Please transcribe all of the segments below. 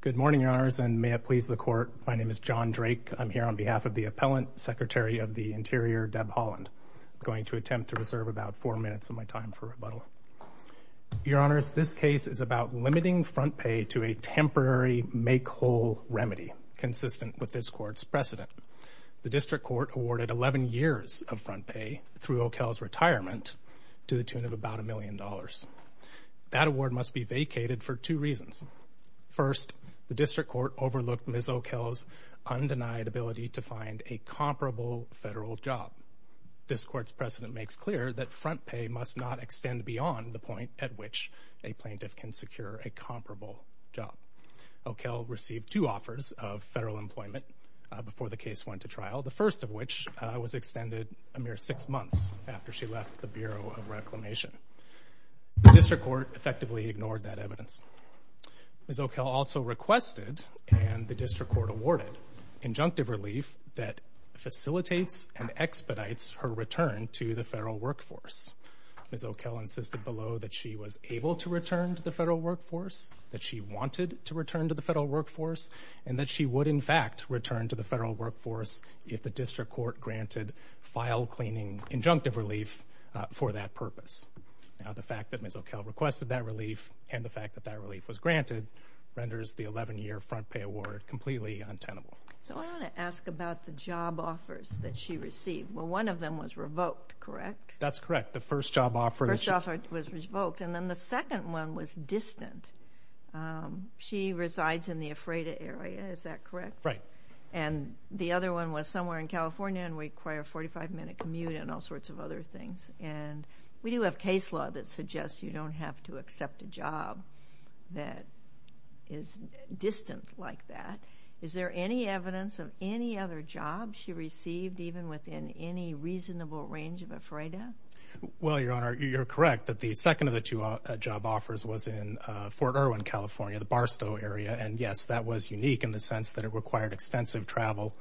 Good morning, Your Honors, and may it please the Court, my name is John Drake. I'm here on behalf of the Appellant, Secretary of the Interior, Deb Haaland. I'm going to attempt to reserve about four minutes of my time for rebuttal. Your Honors, this case is about limiting front pay to a temporary make-whole remedy consistent with this Court's precedent. The District Court awarded 11 years of front pay through O'Kell's retirement to the tune of about a million dollars. That award must be vacated for two reasons. First, the District Court overlooked Ms. O'Kell's undenied ability to find a comparable federal job. This Court's precedent makes clear that front pay must not extend beyond the point at which a plaintiff can secure a comparable job. O'Kell received two offers of federal employment before the case went to trial, the first of which was extended a mere six months after she left the Bureau of Reclamation. The District Court effectively ignored that evidence. Ms. O'Kell also requested, and the District Court awarded, injunctive relief that facilitates and expedites her return to the federal workforce. Ms. O'Kell insisted below that she was able to return to the federal workforce, that she wanted to return to the federal workforce, and that she would, in fact, return to the federal workforce if the District Court granted file-cleaning injunctive relief for that purpose. Now, the fact that Ms. O'Kell requested that relief and the fact that that relief was granted renders the 11-year front pay award completely untenable. So I want to ask about the job offers that she received. Well, one of them was revoked, correct? That's correct. The first job offer was revoked, and then the second one was distant. She resides in the Ephrata area, is that correct? Right. And the other one was somewhere in California and required a 45-minute commute and all sorts of other things. And we do have case law that suggests you don't have to accept a job that is distant like that. Is there any evidence of any other jobs she received, even within any reasonable range of Ephrata? Well, Your Honor, you're correct that the second of the two job offers was in Fort Irwin, California, the Barstow area. And, yes, that was unique in the sense that it required extensive travel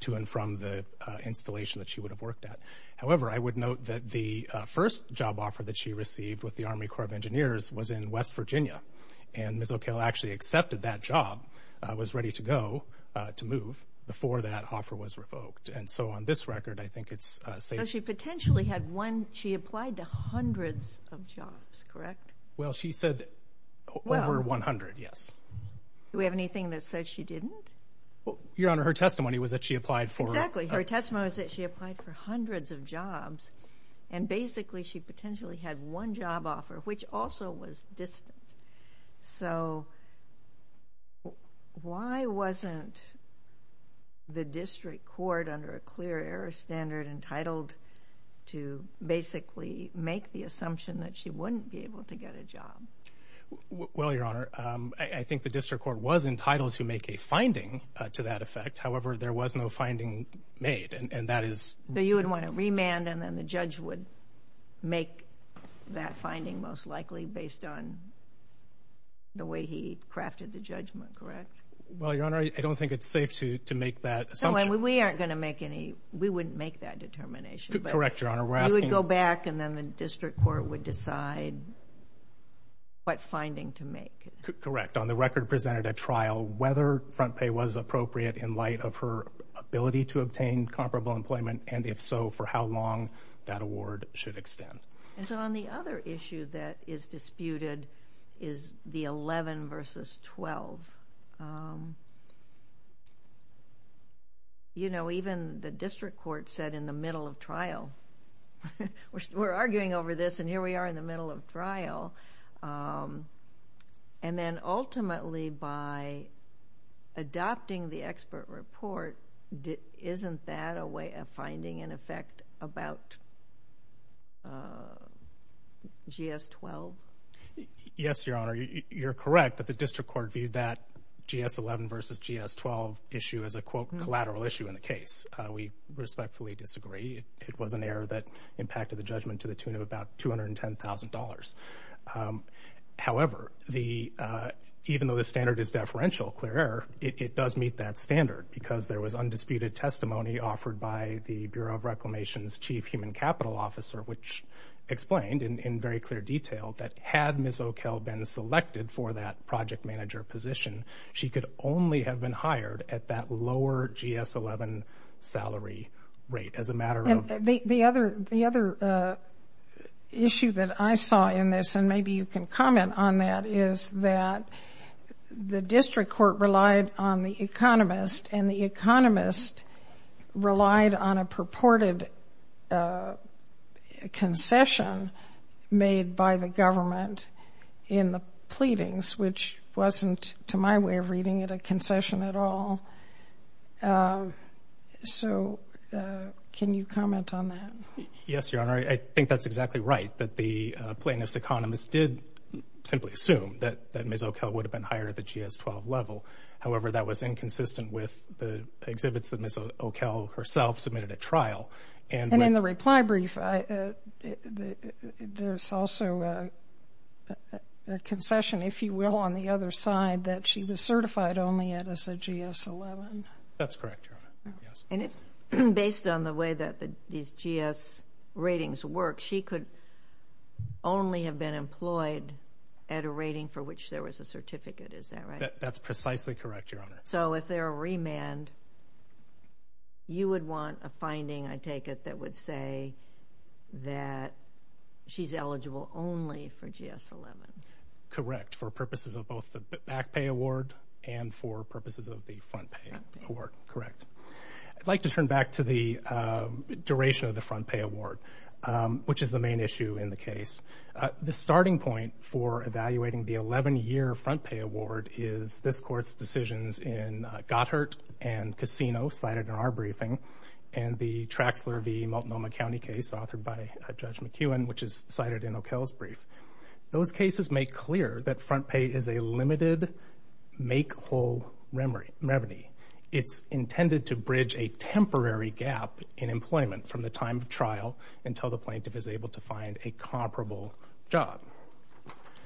to and from the installation that she would have worked at. However, I would note that the first job offer that she received with the Army Corps of Engineers was in West Virginia, and Ms. O'Kell actually accepted that job, was ready to go, to move, before that offer was revoked. And so on this record, I think it's safe to say that she did not receive that job. She applied to hundreds of jobs, correct? Well, she said over 100, yes. Do we have anything that says she didn't? Your Honor, her testimony was that she applied for... Exactly. Her testimony was that she applied for hundreds of jobs. And, basically, she potentially had one job offer, which also was distant. So, why wasn't the district court, under a clear error standard, entitled to basically make the assumption that she wouldn't be able to get a job? Well, Your Honor, I think the district court was entitled to make a finding to that effect. However, there was no finding made, and that is... So, you would want to remand, and then the judge would make that finding, most likely, based on the way he crafted the judgment, correct? Well, Your Honor, I don't think it's safe to make that assumption. We wouldn't make that determination. Correct, Your Honor. We would go back, and then the district court would decide what finding to make. Correct. On the record presented at trial, whether front pay was appropriate in light of her ability to obtain comparable employment, and, if so, for how long that award should extend. And so, on the other issue that is disputed is the 11 versus 12. You know, even the district court said in the middle of trial, we're arguing over this, and here we are in the middle of trial. And then, ultimately, by adopting the expert report, isn't that a way of finding an effect about GS-12? Yes, Your Honor. You're correct that the district court viewed that GS-11 versus GS-12 issue as a, quote, collateral issue in the case. We respectfully disagree. It was an error that impacted the judgment to the tune of about $210,000. However, even though the standard is deferential, clear error, it does meet that standard, because there was undisputed testimony offered by the Bureau of Reclamation's chief human capital officer, which explained in very clear detail that had Ms. O'Kell been selected for that project manager position, she could only have been hired at that lower GS-11 salary rate, as a matter of... The other issue that I saw in this, and maybe you can comment on that, is that the district court relied on the economist, and the economist relied on a purported concession made by the government in the pleadings, which wasn't, to my way of reading it, a concession at all. So can you comment on that? Yes, Your Honor. I think that's exactly right, that the plaintiff's economist did simply assume that Ms. O'Kell would have been hired at the GS-12 level. However, that was inconsistent with the exhibits that Ms. O'Kell herself submitted at trial. And in the reply brief, there's also a concession, if you will, on the other side, that she was certified only at a GS-11. That's correct, Your Honor. And based on the way that these GS ratings work, she could only have been employed at a rating for which there was a certificate. That's precisely correct, Your Honor. So if there are remand, you would want a finding, I take it, that would say that she's eligible only for GS-11. Correct, for purposes of both the back pay award and for purposes of the front pay award. Correct. I'd like to turn back to the duration of the front pay award, which is the main issue in the case. The starting point for evaluating the 11-year front pay award is this Court's decisions in Gotthard and Casino, cited in our briefing, and the Traxler v. Multnomah County case authored by Judge McEwen, which is cited in O'Kell's brief. Those cases make clear that front pay is a limited make-whole revenue. It's intended to bridge a temporary gap in employment from the time of trial until the plaintiff is able to find a comparable job.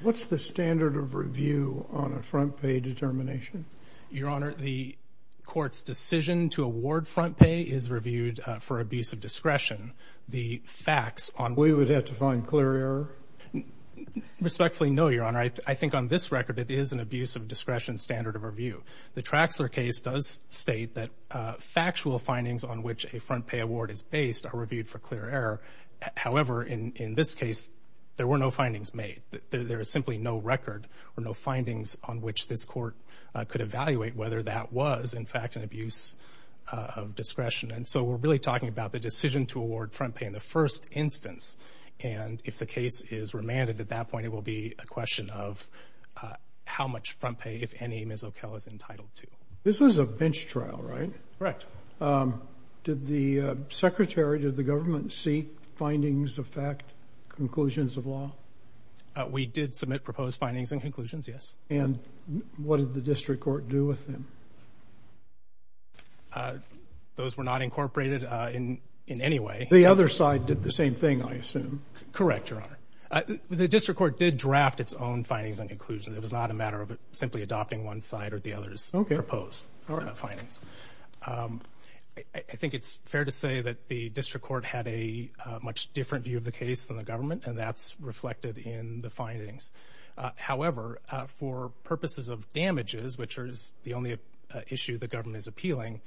What's the standard of review on a front pay determination? Your Honor, the Court's decision to award front pay is reviewed for abuse of discretion. The facts on— We would have to find clear error? Respectfully, no, Your Honor. I think on this record, it is an abuse of discretion standard of review. The Traxler case does state that factual findings on which a front pay award is based are reviewed for clear error. However, in this case, there were no findings made. There is simply no record or no findings on which this Court could evaluate whether that was, in fact, an abuse of discretion. And so we're really talking about the decision to award front pay in the first instance. And if the case is remanded at that point, it will be a question of how much front pay, if any, Ms. O'Kell is entitled to. This was a bench trial, right? Correct. Did the Secretary, did the government seek findings of fact, conclusions of law? We did submit proposed findings and conclusions, yes. And what did the district court do with them? Those were not incorporated in any way. The other side did the same thing, I assume. Correct, Your Honor. The district court did draft its own findings and conclusions. It was not a matter of simply adopting one side or the other's proposed findings. I think it's fair to say that the district court had a much different view of the case than the government, and that's reflected in the findings. However, for purposes of damages, which is the only issue the government is appealing,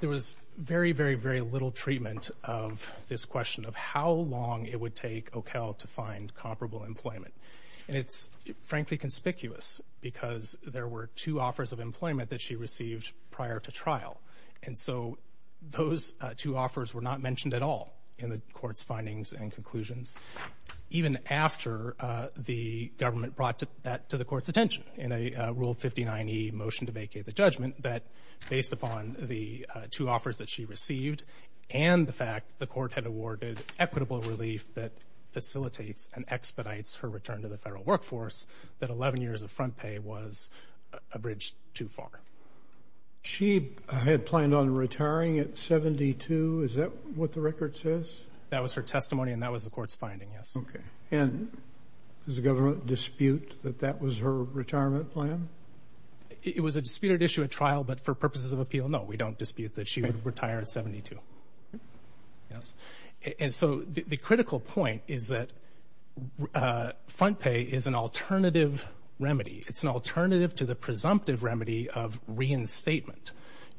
there was very, very, very little treatment of this question of how long it would take O'Kell to find comparable employment. And it's, frankly, conspicuous because there were two offers of employment that she received prior to trial. And so those two offers were not mentioned at all in the court's findings and conclusions. Even after the government brought that to the court's attention in a Rule 59e motion to vacate the judgment, that based upon the two offers that she received and the fact the court had awarded equitable relief that facilitates and expedites her return to the federal workforce, that 11 years of front pay was a bridge too far. She had planned on retiring at 72. Is that what the record says? That was her testimony, and that was the court's finding, yes. Okay. And does the government dispute that that was her retirement plan? It was a disputed issue at trial, but for purposes of appeal, no, we don't dispute that she would retire at 72, yes. And so the critical point is that front pay is an alternative remedy. It's an alternative to the presumptive remedy of reinstatement.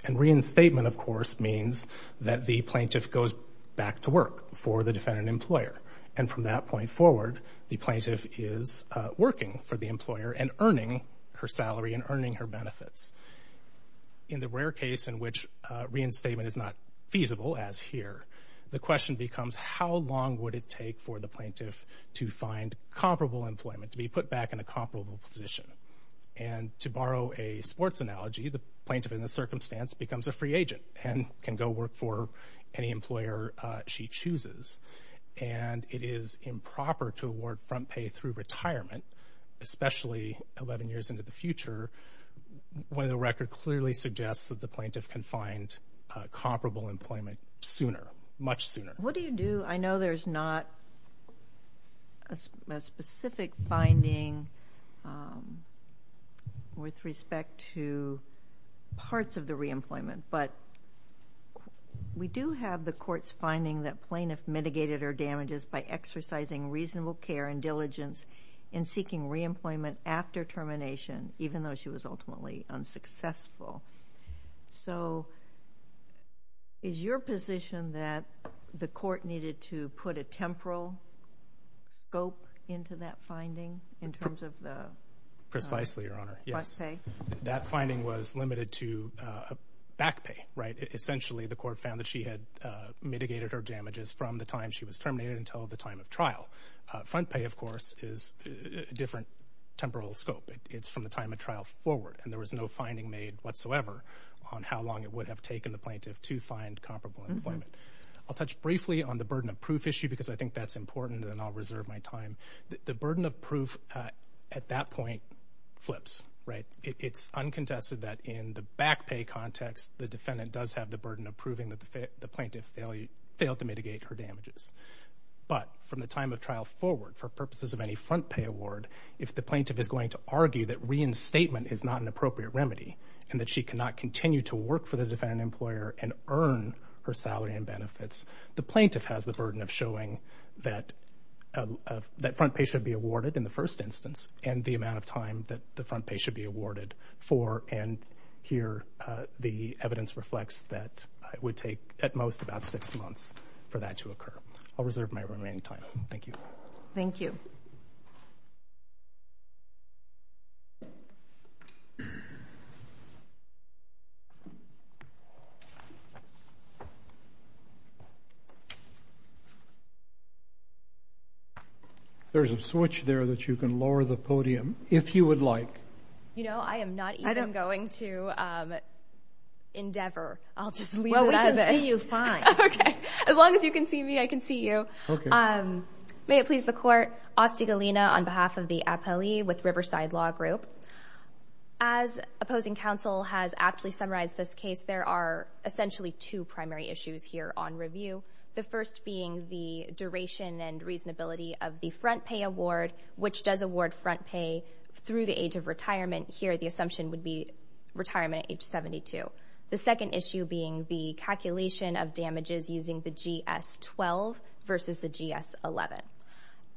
And reinstatement, of course, means that the plaintiff goes back to work for the defendant employer. And from that point forward, the plaintiff is working for the employer and earning her salary and earning her benefits. In the rare case in which reinstatement is not feasible, as here, the question becomes how long would it take for the plaintiff to find comparable employment, to be put back in a comparable position. And to borrow a sports analogy, the plaintiff in this circumstance becomes a free agent and can go work for any employer she chooses. And it is improper to award front pay through retirement, especially 11 years into the future, when the record clearly suggests that the plaintiff can find comparable employment sooner, much sooner. What do you do? I know there's not a specific finding with respect to parts of the reemployment, but we do have the court's finding that plaintiff mitigated her damages by exercising reasonable care and diligence in seeking reemployment after termination, even though she was ultimately unsuccessful. So is your position that the court needed to put a temporal scope into that finding in terms of the front pay? Precisely, Your Honor. Yes. That finding was limited to back pay, right? Essentially, the court found that she had mitigated her damages from the time she was terminated until the time of trial. Front pay, of course, is a different temporal scope. It's from the time of trial forward, and there was no finding made whatsoever on how long it would have taken the plaintiff to find comparable employment. I'll touch briefly on the burden of proof issue because I think that's important and I'll reserve my time. The burden of proof at that point flips, right? It's uncontested that in the back pay context, the defendant does have the burden of proving that the plaintiff failed to mitigate her damages. But from the time of trial forward, for purposes of any front pay award, if the plaintiff is going to argue that reinstatement is not an appropriate remedy and that she cannot continue to work for the defendant employer and earn her salary and benefits, the plaintiff has the burden of showing that front pay should be awarded in the first instance and the amount of time that the front pay should be awarded for, and here the evidence reflects that it would take at most about six months for that to occur. I'll reserve my remaining time. Thank you. Thank you. There's a switch there that you can lower the podium if you would like. You know, I am not even going to endeavor. I'll just leave it at this. Well, we can see you fine. Okay. As long as you can see me, I can see you. Okay. May it please the Court. Austi Galina on behalf of the Appellee with Riverside Law Group. As opposing counsel has aptly summarized this case, there are essentially two primary issues here on review. The first being the duration and reasonability of the front pay award, which does award front pay through the age of retirement. Here the assumption would be retirement at age 72. The second issue being the calculation of damages using the GS-12 versus the GS-11.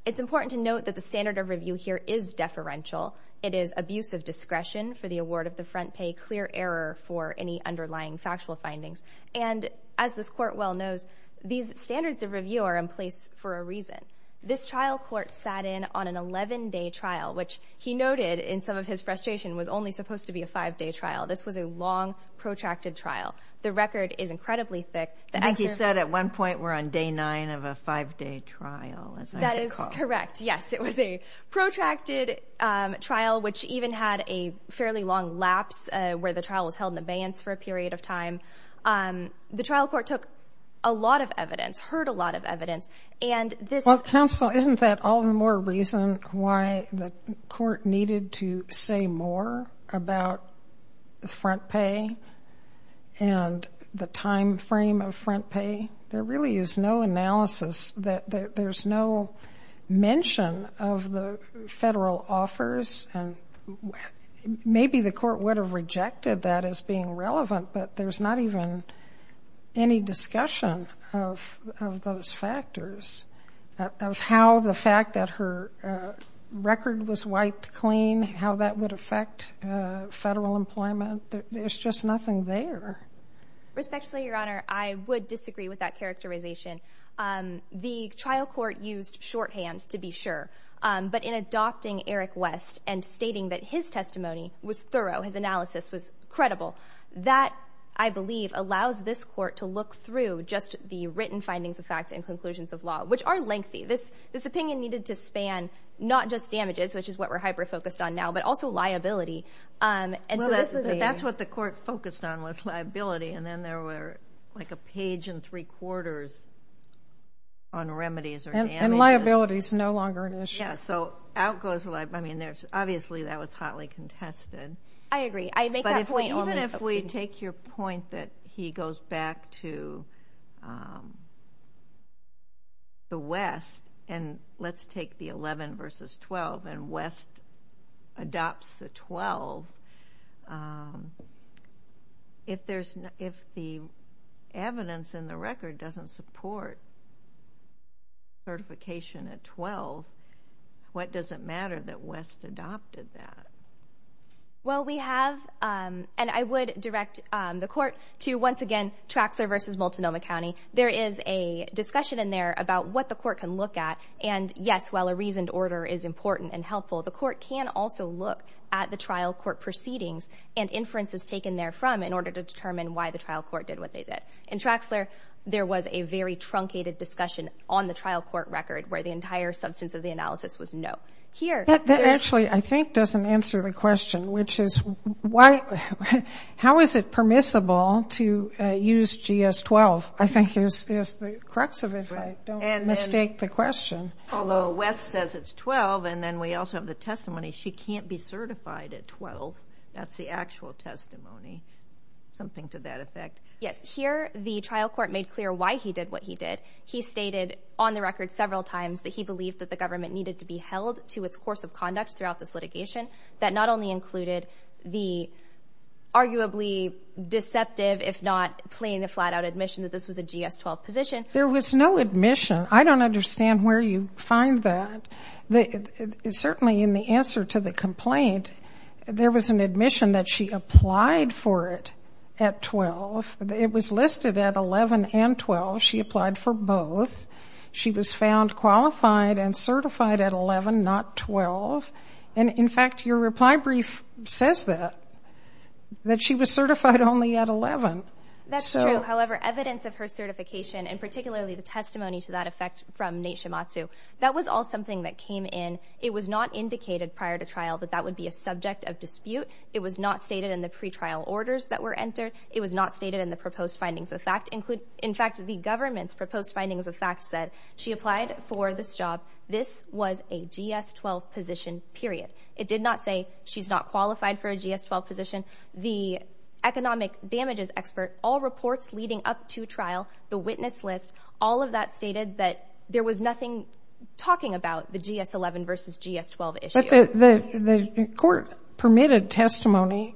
It's important to note that the standard of review here is deferential. It is abuse of discretion for the award of the front pay, clear error for any underlying factual findings. And as this Court well knows, these standards of review are in place for a reason. This trial court sat in on an 11-day trial, which he noted in some of his frustration was only supposed to be a five-day trial. This was a long, protracted trial. The record is incredibly thick. I think he said at one point we're on day nine of a five-day trial, as I recall. That is correct. Yes, it was a protracted trial, which even had a fairly long lapse where the trial was held in abeyance for a period of time. The trial court took a lot of evidence, heard a lot of evidence. Well, counsel, isn't that all the more reason why the court needed to say more about front pay and the time frame of front pay? There really is no analysis. There's no mention of the federal offers. And maybe the court would have rejected that as being relevant, but there's not even any discussion of those factors, of how the fact that her record was wiped clean, how that would affect federal employment. There's just nothing there. Respectfully, Your Honor, I would disagree with that characterization. The trial court used shorthands, to be sure, but in adopting Eric West and stating that his testimony was thorough, his analysis was credible, that, I believe, allows this court to look through just the written findings of fact and conclusions of law, which are lengthy. This opinion needed to span not just damages, which is what we're hyper-focused on now, but also liability. That's what the court focused on was liability, and then there were like a page and three quarters on remedies or damages. And liability is no longer an issue. Yeah, so out goes liability. Obviously, that was hotly contested. I agree. But even if we take your point that he goes back to the West, and let's take the 11 versus 12, and West adopts the 12, if the evidence in the record doesn't support certification at 12, what does it matter that West adopted that? Well, we have, and I would direct the court to, once again, Traxler versus Multnomah County. There is a discussion in there about what the court can look at, and, yes, while a reasoned order is important and helpful, the court can also look at the trial court proceedings and inferences taken therefrom in order to determine why the trial court did what they did. In Traxler, there was a very truncated discussion on the trial court record where the entire substance of the analysis was no. That actually, I think, doesn't answer the question, which is how is it permissible to use GS-12? I think is the crux of it, if I don't mistake the question. Although West says it's 12, and then we also have the testimony, she can't be certified at 12. That's the actual testimony, something to that effect. Yes. Here, the trial court made clear why he did what he did. He stated on the record several times that he believed that the government needed to be held to its course of conduct throughout this litigation. That not only included the arguably deceptive, if not plain and flat-out admission that this was a GS-12 position. There was no admission. I don't understand where you find that. Certainly, in the answer to the complaint, there was an admission that she applied for it at 12. It was listed at 11 and 12. She applied for both. She was found qualified and certified at 11, not 12. And, in fact, your reply brief says that, that she was certified only at 11. That's true. However, evidence of her certification, and particularly the testimony to that effect from Nate Shimatsu, that was all something that came in. It was not indicated prior to trial that that would be a subject of dispute. It was not stated in the pretrial orders that were entered. It was not stated in the proposed findings of fact. In fact, the government's proposed findings of fact said she applied for this job. This was a GS-12 position, period. It did not say she's not qualified for a GS-12 position. The economic damages expert, all reports leading up to trial, the witness list, all of that stated that there was nothing talking about the GS-11 versus GS-12 issue. But the court permitted testimony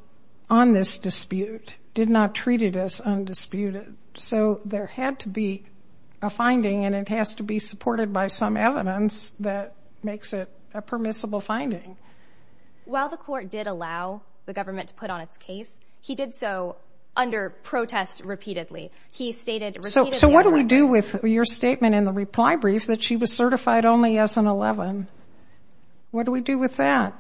on this dispute. It did not treat it as undisputed. So there had to be a finding, and it has to be supported by some evidence that makes it a permissible finding. While the court did allow the government to put on its case, he did so under protest repeatedly. He stated repeatedly. So what do we do with your statement in the reply brief that she was certified only as an 11? What do we do with that?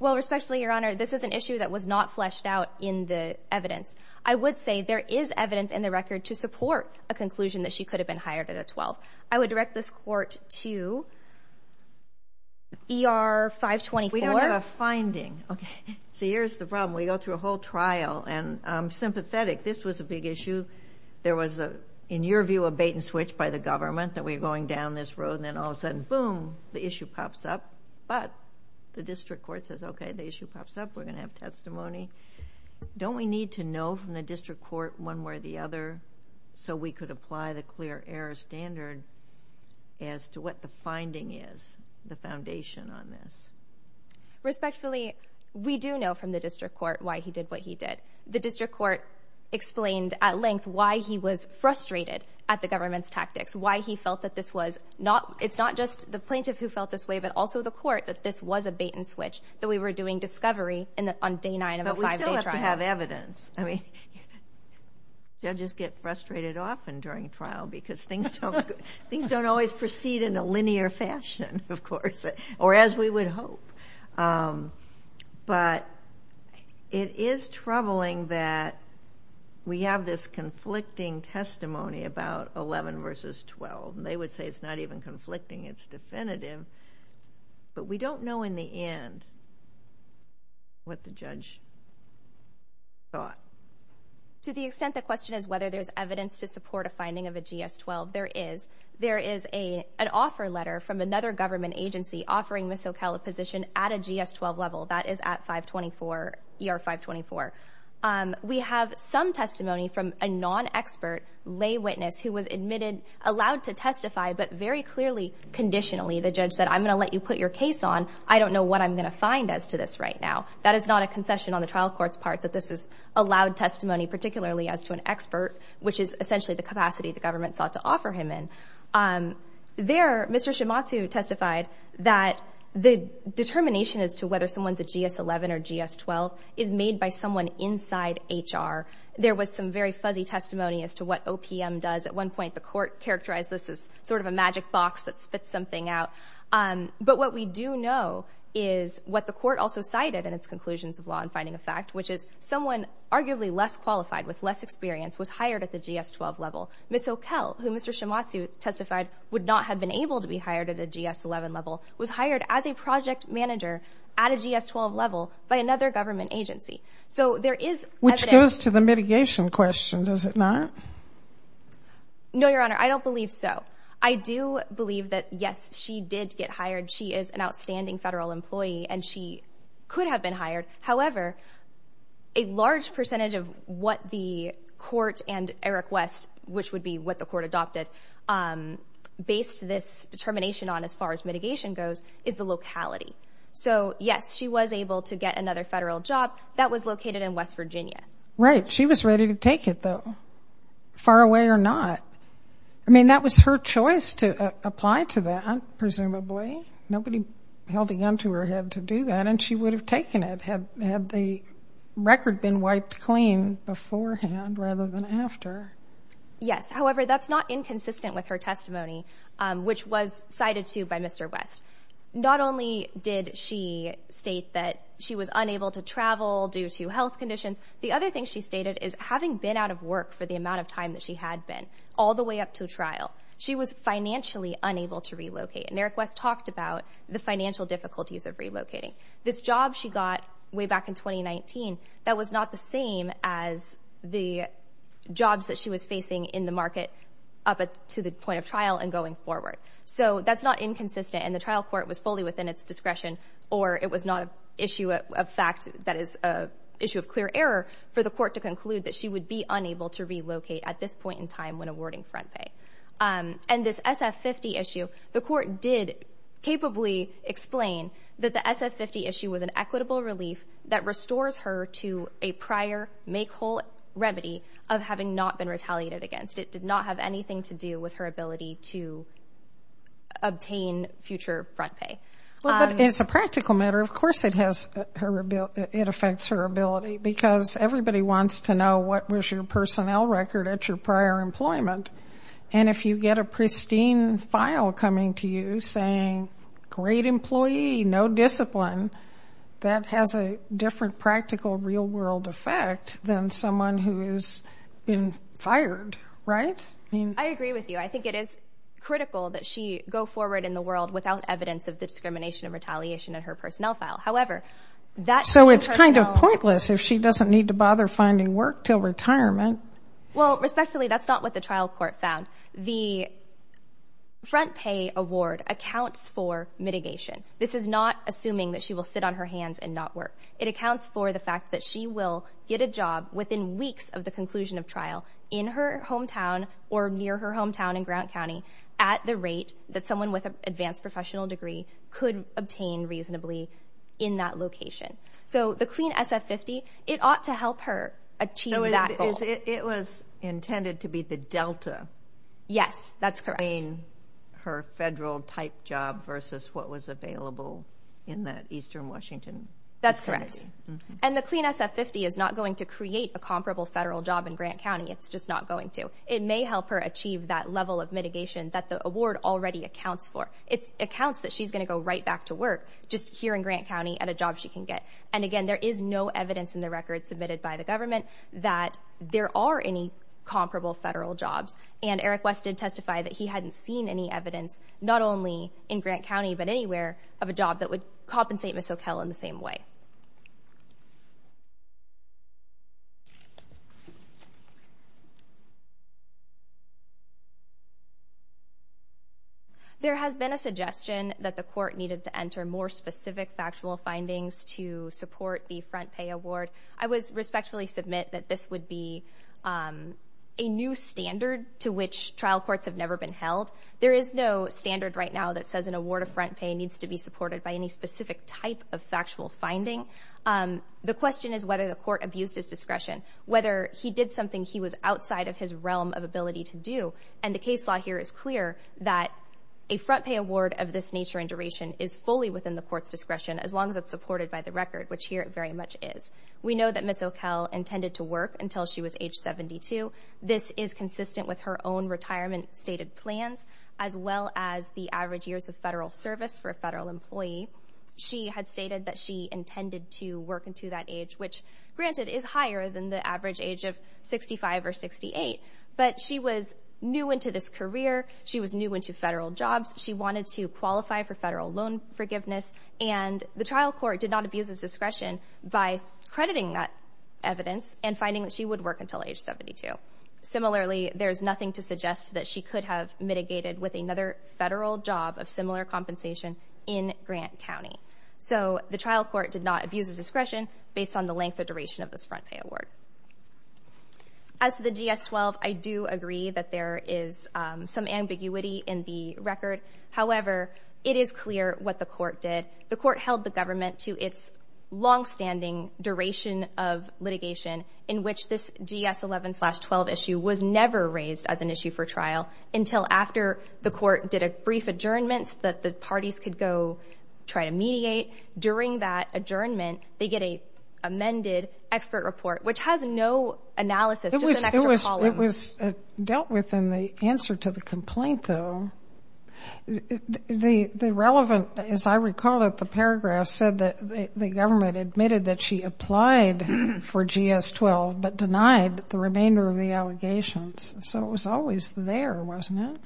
Well, respectfully, Your Honor, this is an issue that was not fleshed out in the evidence. I would say there is evidence in the record to support a conclusion that she could have been hired at a 12. I would direct this court to ER-524. We don't have a finding. So here's the problem. We go through a whole trial, and I'm sympathetic. This was a big issue. There was, in your view, a bait-and-switch by the government, that we were going down this road, and then all of a sudden, boom, the issue pops up. But the district court says, okay, the issue pops up. We're going to have testimony. Don't we need to know from the district court one way or the other so we could apply the clear error standard as to what the finding is, the foundation on this? Respectfully, we do know from the district court why he did what he did. The district court explained at length why he was frustrated at the government's tactics, why he felt that this was not just the plaintiff who felt this way but also the court, that this was a bait-and-switch, that we were doing discovery on day nine of a five-day trial. But we still have to have evidence. Judges get frustrated often during trial because things don't always proceed in a linear fashion, of course, or as we would hope. But it is troubling that we have this conflicting testimony about 11 versus 12. They would say it's not even conflicting. It's definitive. But we don't know in the end what the judge thought. To the extent the question is whether there's evidence to support a finding of a GS-12, there is. There is an offer letter from another government agency offering Ms. Soquel a position at a GS-12 level. That is at 524, ER 524. We have some testimony from a non-expert lay witness who was admitted, allowed to testify, but very clearly, conditionally, the judge said, I'm going to let you put your case on. I don't know what I'm going to find as to this right now. That is not a concession on the trial court's part that this is a loud testimony, particularly as to an expert, which is essentially the capacity the government sought to offer him in. There, Mr. Shimatsu testified that the determination as to whether someone's a GS-11 or GS-12 is made by someone inside HR. There was some very fuzzy testimony as to what OPM does. At one point, the court characterized this as sort of a magic box that spits something out. But what we do know is what the court also cited in its conclusions of law and finding of fact, which is someone arguably less qualified with less experience was hired at the GS-12 level. Ms. Soquel, who Mr. Shimatsu testified would not have been able to be hired at a GS-11 level, was hired as a project manager at a GS-12 level by another government agency. So there is evidence. Which goes to the mitigation question, does it not? No, Your Honor, I don't believe so. I do believe that, yes, she did get hired. She is an outstanding federal employee, and she could have been hired. However, a large percentage of what the court and Eric West, which would be what the court adopted, based this determination on as far as mitigation goes, is the locality. So, yes, she was able to get another federal job. That was located in West Virginia. Right. She was ready to take it, though, far away or not. I mean, that was her choice to apply to that, presumably. Far away? Nobody held a gun to her head to do that, and she would have taken it had the record been wiped clean beforehand rather than after. Yes. However, that's not inconsistent with her testimony, which was cited, too, by Mr. West. Not only did she state that she was unable to travel due to health conditions, the other thing she stated is having been out of work for the amount of time that she had been, all the way up to trial, she was financially unable to relocate. And Eric West talked about the financial difficulties of relocating. This job she got way back in 2019, that was not the same as the jobs that she was facing in the market up to the point of trial and going forward. So that's not inconsistent, and the trial court was fully within its discretion, or it was not an issue of fact that is an issue of clear error for the court to conclude that she would be unable to relocate at this point in time when awarding front pay. And this SF-50 issue, the court did capably explain that the SF-50 issue was an equitable relief that restores her to a prior make-whole remedy of having not been retaliated against. It did not have anything to do with her ability to obtain future front pay. But as a practical matter, of course it affects her ability, because everybody wants to know what was your personnel record at your prior employment. And if you get a pristine file coming to you saying, great employee, no discipline, that has a different practical real-world effect than someone who has been fired, right? I agree with you. I think it is critical that she go forward in the world without evidence of the discrimination and retaliation in her personnel file. So it's kind of pointless if she doesn't need to bother finding work until retirement. Well, respectfully, that's not what the trial court found. The front pay award accounts for mitigation. This is not assuming that she will sit on her hands and not work. It accounts for the fact that she will get a job within weeks of the conclusion of trial in her hometown or near her hometown in Grant County at the rate that someone with an advanced professional degree could obtain reasonably in that location. So the CLEAN SF-50, it ought to help her achieve that goal. It was intended to be the delta. Yes, that's correct. CLEAN, her federal-type job versus what was available in that eastern Washington. That's correct. And the CLEAN SF-50 is not going to create a comparable federal job in Grant County. It's just not going to. So it may help her achieve that level of mitigation that the award already accounts for. It accounts that she's going to go right back to work just here in Grant County at a job she can get. And, again, there is no evidence in the record submitted by the government that there are any comparable federal jobs. And Eric West did testify that he hadn't seen any evidence, not only in Grant County but anywhere, of a job that would compensate Ms. O'Kell in the same way. There has been a suggestion that the court needed to enter more specific factual findings to support the front pay award. I would respectfully submit that this would be a new standard to which trial courts have never been held. There is no standard right now that says an award of front pay needs to be supported by any specific type of factual finding. The question is whether the court abused his discretion, whether he did something he was outside of his realm of ability to do. And the case law here is clear that a front pay award of this nature and duration is fully within the court's discretion as long as it's supported by the record, which here it very much is. We know that Ms. O'Kell intended to work until she was age 72. This is consistent with her own retirement stated plans as well as the average years of federal service for a federal employee. She had stated that she intended to work until that age, which granted is higher than the average age of 65 or 68, but she was new into this career. She was new into federal jobs. She wanted to qualify for federal loan forgiveness, and the trial court did not abuse his discretion by crediting that evidence and finding that she would work until age 72. Similarly, there's nothing to suggest that she could have mitigated with another federal job of similar compensation in Grant County. So the trial court did not abuse his discretion based on the length or duration of this front pay award. As to the GS-12, I do agree that there is some ambiguity in the record. However, it is clear what the court did. The court held the government to its longstanding duration of litigation in which this GS-11-12 issue was never raised as an issue for trial until after the court did a brief adjournment that the parties could go try to mediate. During that adjournment, they get an amended expert report, which has no analysis, just an extra column. It was dealt with in the answer to the complaint, though. The relevant, as I recall it, the paragraph said that the government admitted that she applied for GS-12 but denied the remainder of the allegations. So it was always there, wasn't it?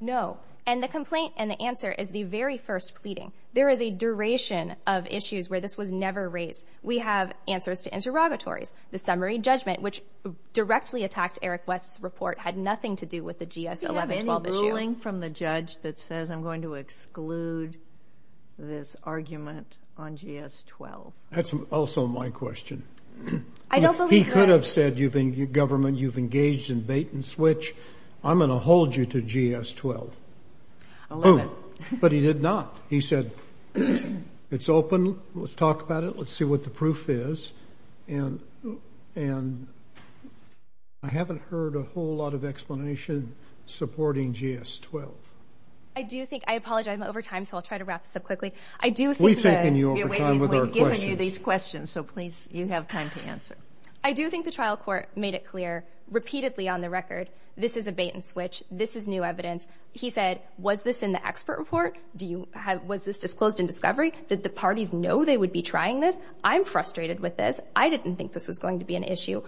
No, and the complaint and the answer is the very first pleading. There is a duration of issues where this was never raised. We have answers to interrogatories. The summary judgment, which directly attacked Eric West's report, had nothing to do with the GS-11-12 issue. I'm calling from the judge that says I'm going to exclude this argument on GS-12. That's also my question. He could have said, government, you've engaged in bait and switch. I'm going to hold you to GS-12. But he did not. He said, it's open. Let's talk about it. Let's see what the proof is. And I haven't heard a whole lot of explanation supporting GS-12. I do think, I apologize, I'm over time, so I'll try to wrap this up quickly. We've given you these questions, so please, you have time to answer. I do think the trial court made it clear repeatedly on the record, this is a bait and switch, this is new evidence. He said, was this in the expert report? Was this disclosed in discovery? Did the parties know they would be trying this? I'm frustrated with this. I didn't think this was going to be an issue.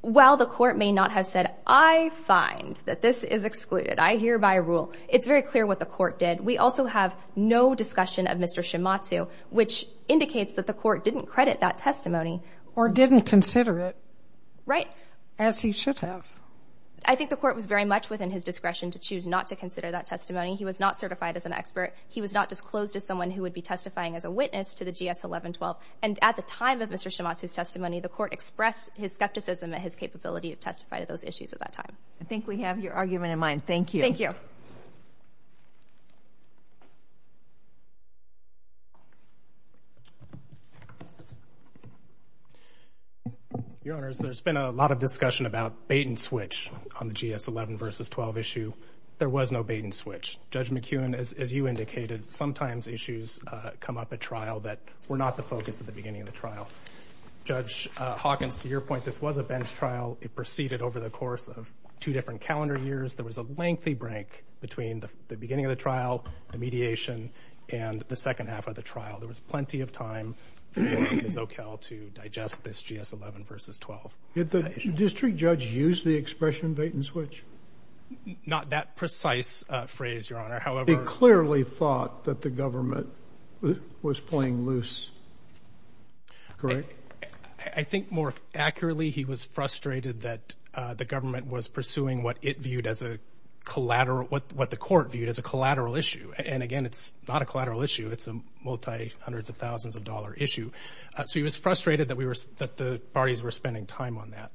While the court may not have said, I find that this is excluded, I hear by rule, it's very clear what the court did. We also have no discussion of Mr. Shimatsu, which indicates that the court didn't credit that testimony. Or didn't consider it. Right. As he should have. I think the court was very much within his discretion to choose not to consider that testimony. He was not certified as an expert. He was not disclosed as someone who would be testifying as a witness to the GS-11-12. And at the time of Mr. Shimatsu's testimony, the court expressed his skepticism at his capability to testify to those issues at that time. I think we have your argument in mind. Thank you. Thank you. Your Honors, there's been a lot of discussion about bait and switch on the GS-11-12 issue. There was no bait and switch. Judge McEwen, as you indicated, sometimes issues come up at trial that were not the focus at the beginning of the trial. Judge Hawkins, to your point, this was a bench trial. It proceeded over the course of two different calendar years. There was a lengthy break between the beginning of the trial, the mediation, and the second half of the trial. There was plenty of time for Ms. O'Kell to digest this GS-11 versus 12. Did the district judge use the expression bait and switch? Not that precise phrase, Your Honor. He clearly thought that the government was playing loose. Correct? I think more accurately, he was frustrated that the government was pursuing what it viewed as a collateral, what the court viewed as a collateral issue. And, again, it's not a collateral issue. It's a multi-hundreds-of-thousands-of-dollar issue. So he was frustrated that the parties were spending time on that.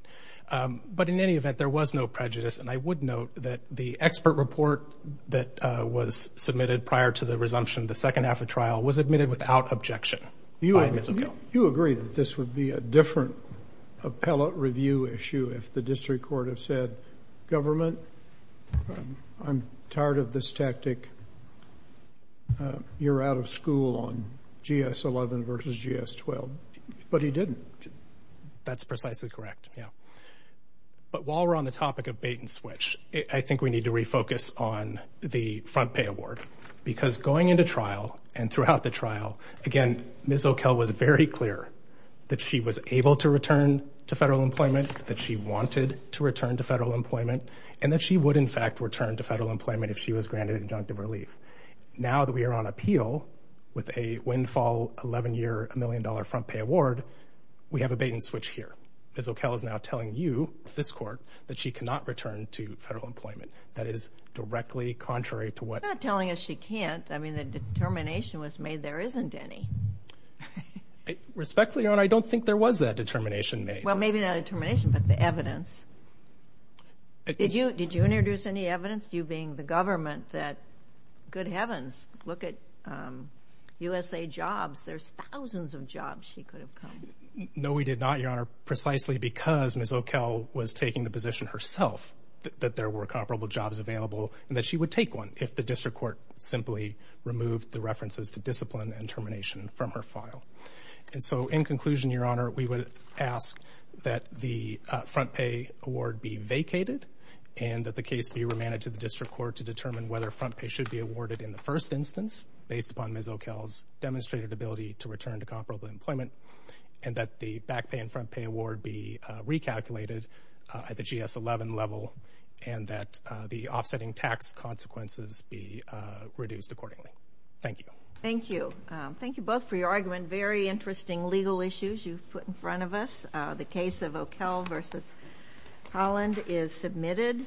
But in any event, there was no prejudice. And I would note that the expert report that was submitted prior to the resumption of the second half of trial was admitted without objection by Ms. O'Kell. You agree that this would be a different appellate review issue if the district court had said, Government, I'm tired of this tactic. You're out of school on GS-11 versus GS-12. But he didn't. That's precisely correct, yeah. But while we're on the topic of bait-and-switch, I think we need to refocus on the front pay award. Because going into trial and throughout the trial, again, Ms. O'Kell was very clear that she was able to return to federal employment, that she wanted to return to federal employment, and that she would, in fact, return to federal employment if she was granted injunctive relief. Now that we are on appeal with a windfall 11-year, $1 million front pay award, we have a bait-and-switch here. Ms. O'Kell is now telling you, this court, that she cannot return to federal employment. That is directly contrary to what— She's not telling us she can't. I mean, the determination was made there isn't any. Respectfully, Your Honor, I don't think there was that determination made. Well, maybe not a determination, but the evidence. Did you introduce any evidence, you being the government, that good heavens, look at USA Jobs. There's thousands of jobs she could have come. No, we did not, Your Honor, precisely because Ms. O'Kell was taking the position herself that there were comparable jobs available and that she would take one if the district court simply removed the references to discipline and termination from her file. And so, in conclusion, Your Honor, we would ask that the front pay award be vacated and that the case be remanded to the district court to determine whether front pay should be awarded in the first instance, based upon Ms. O'Kell's demonstrated ability to return to comparable employment, and that the back pay and front pay award be recalculated at the GS-11 level and that the offsetting tax consequences be reduced accordingly. Thank you. Thank you. Thank you both for your argument. Very interesting legal issues you've put in front of us. The case of O'Kell v. Holland is submitted.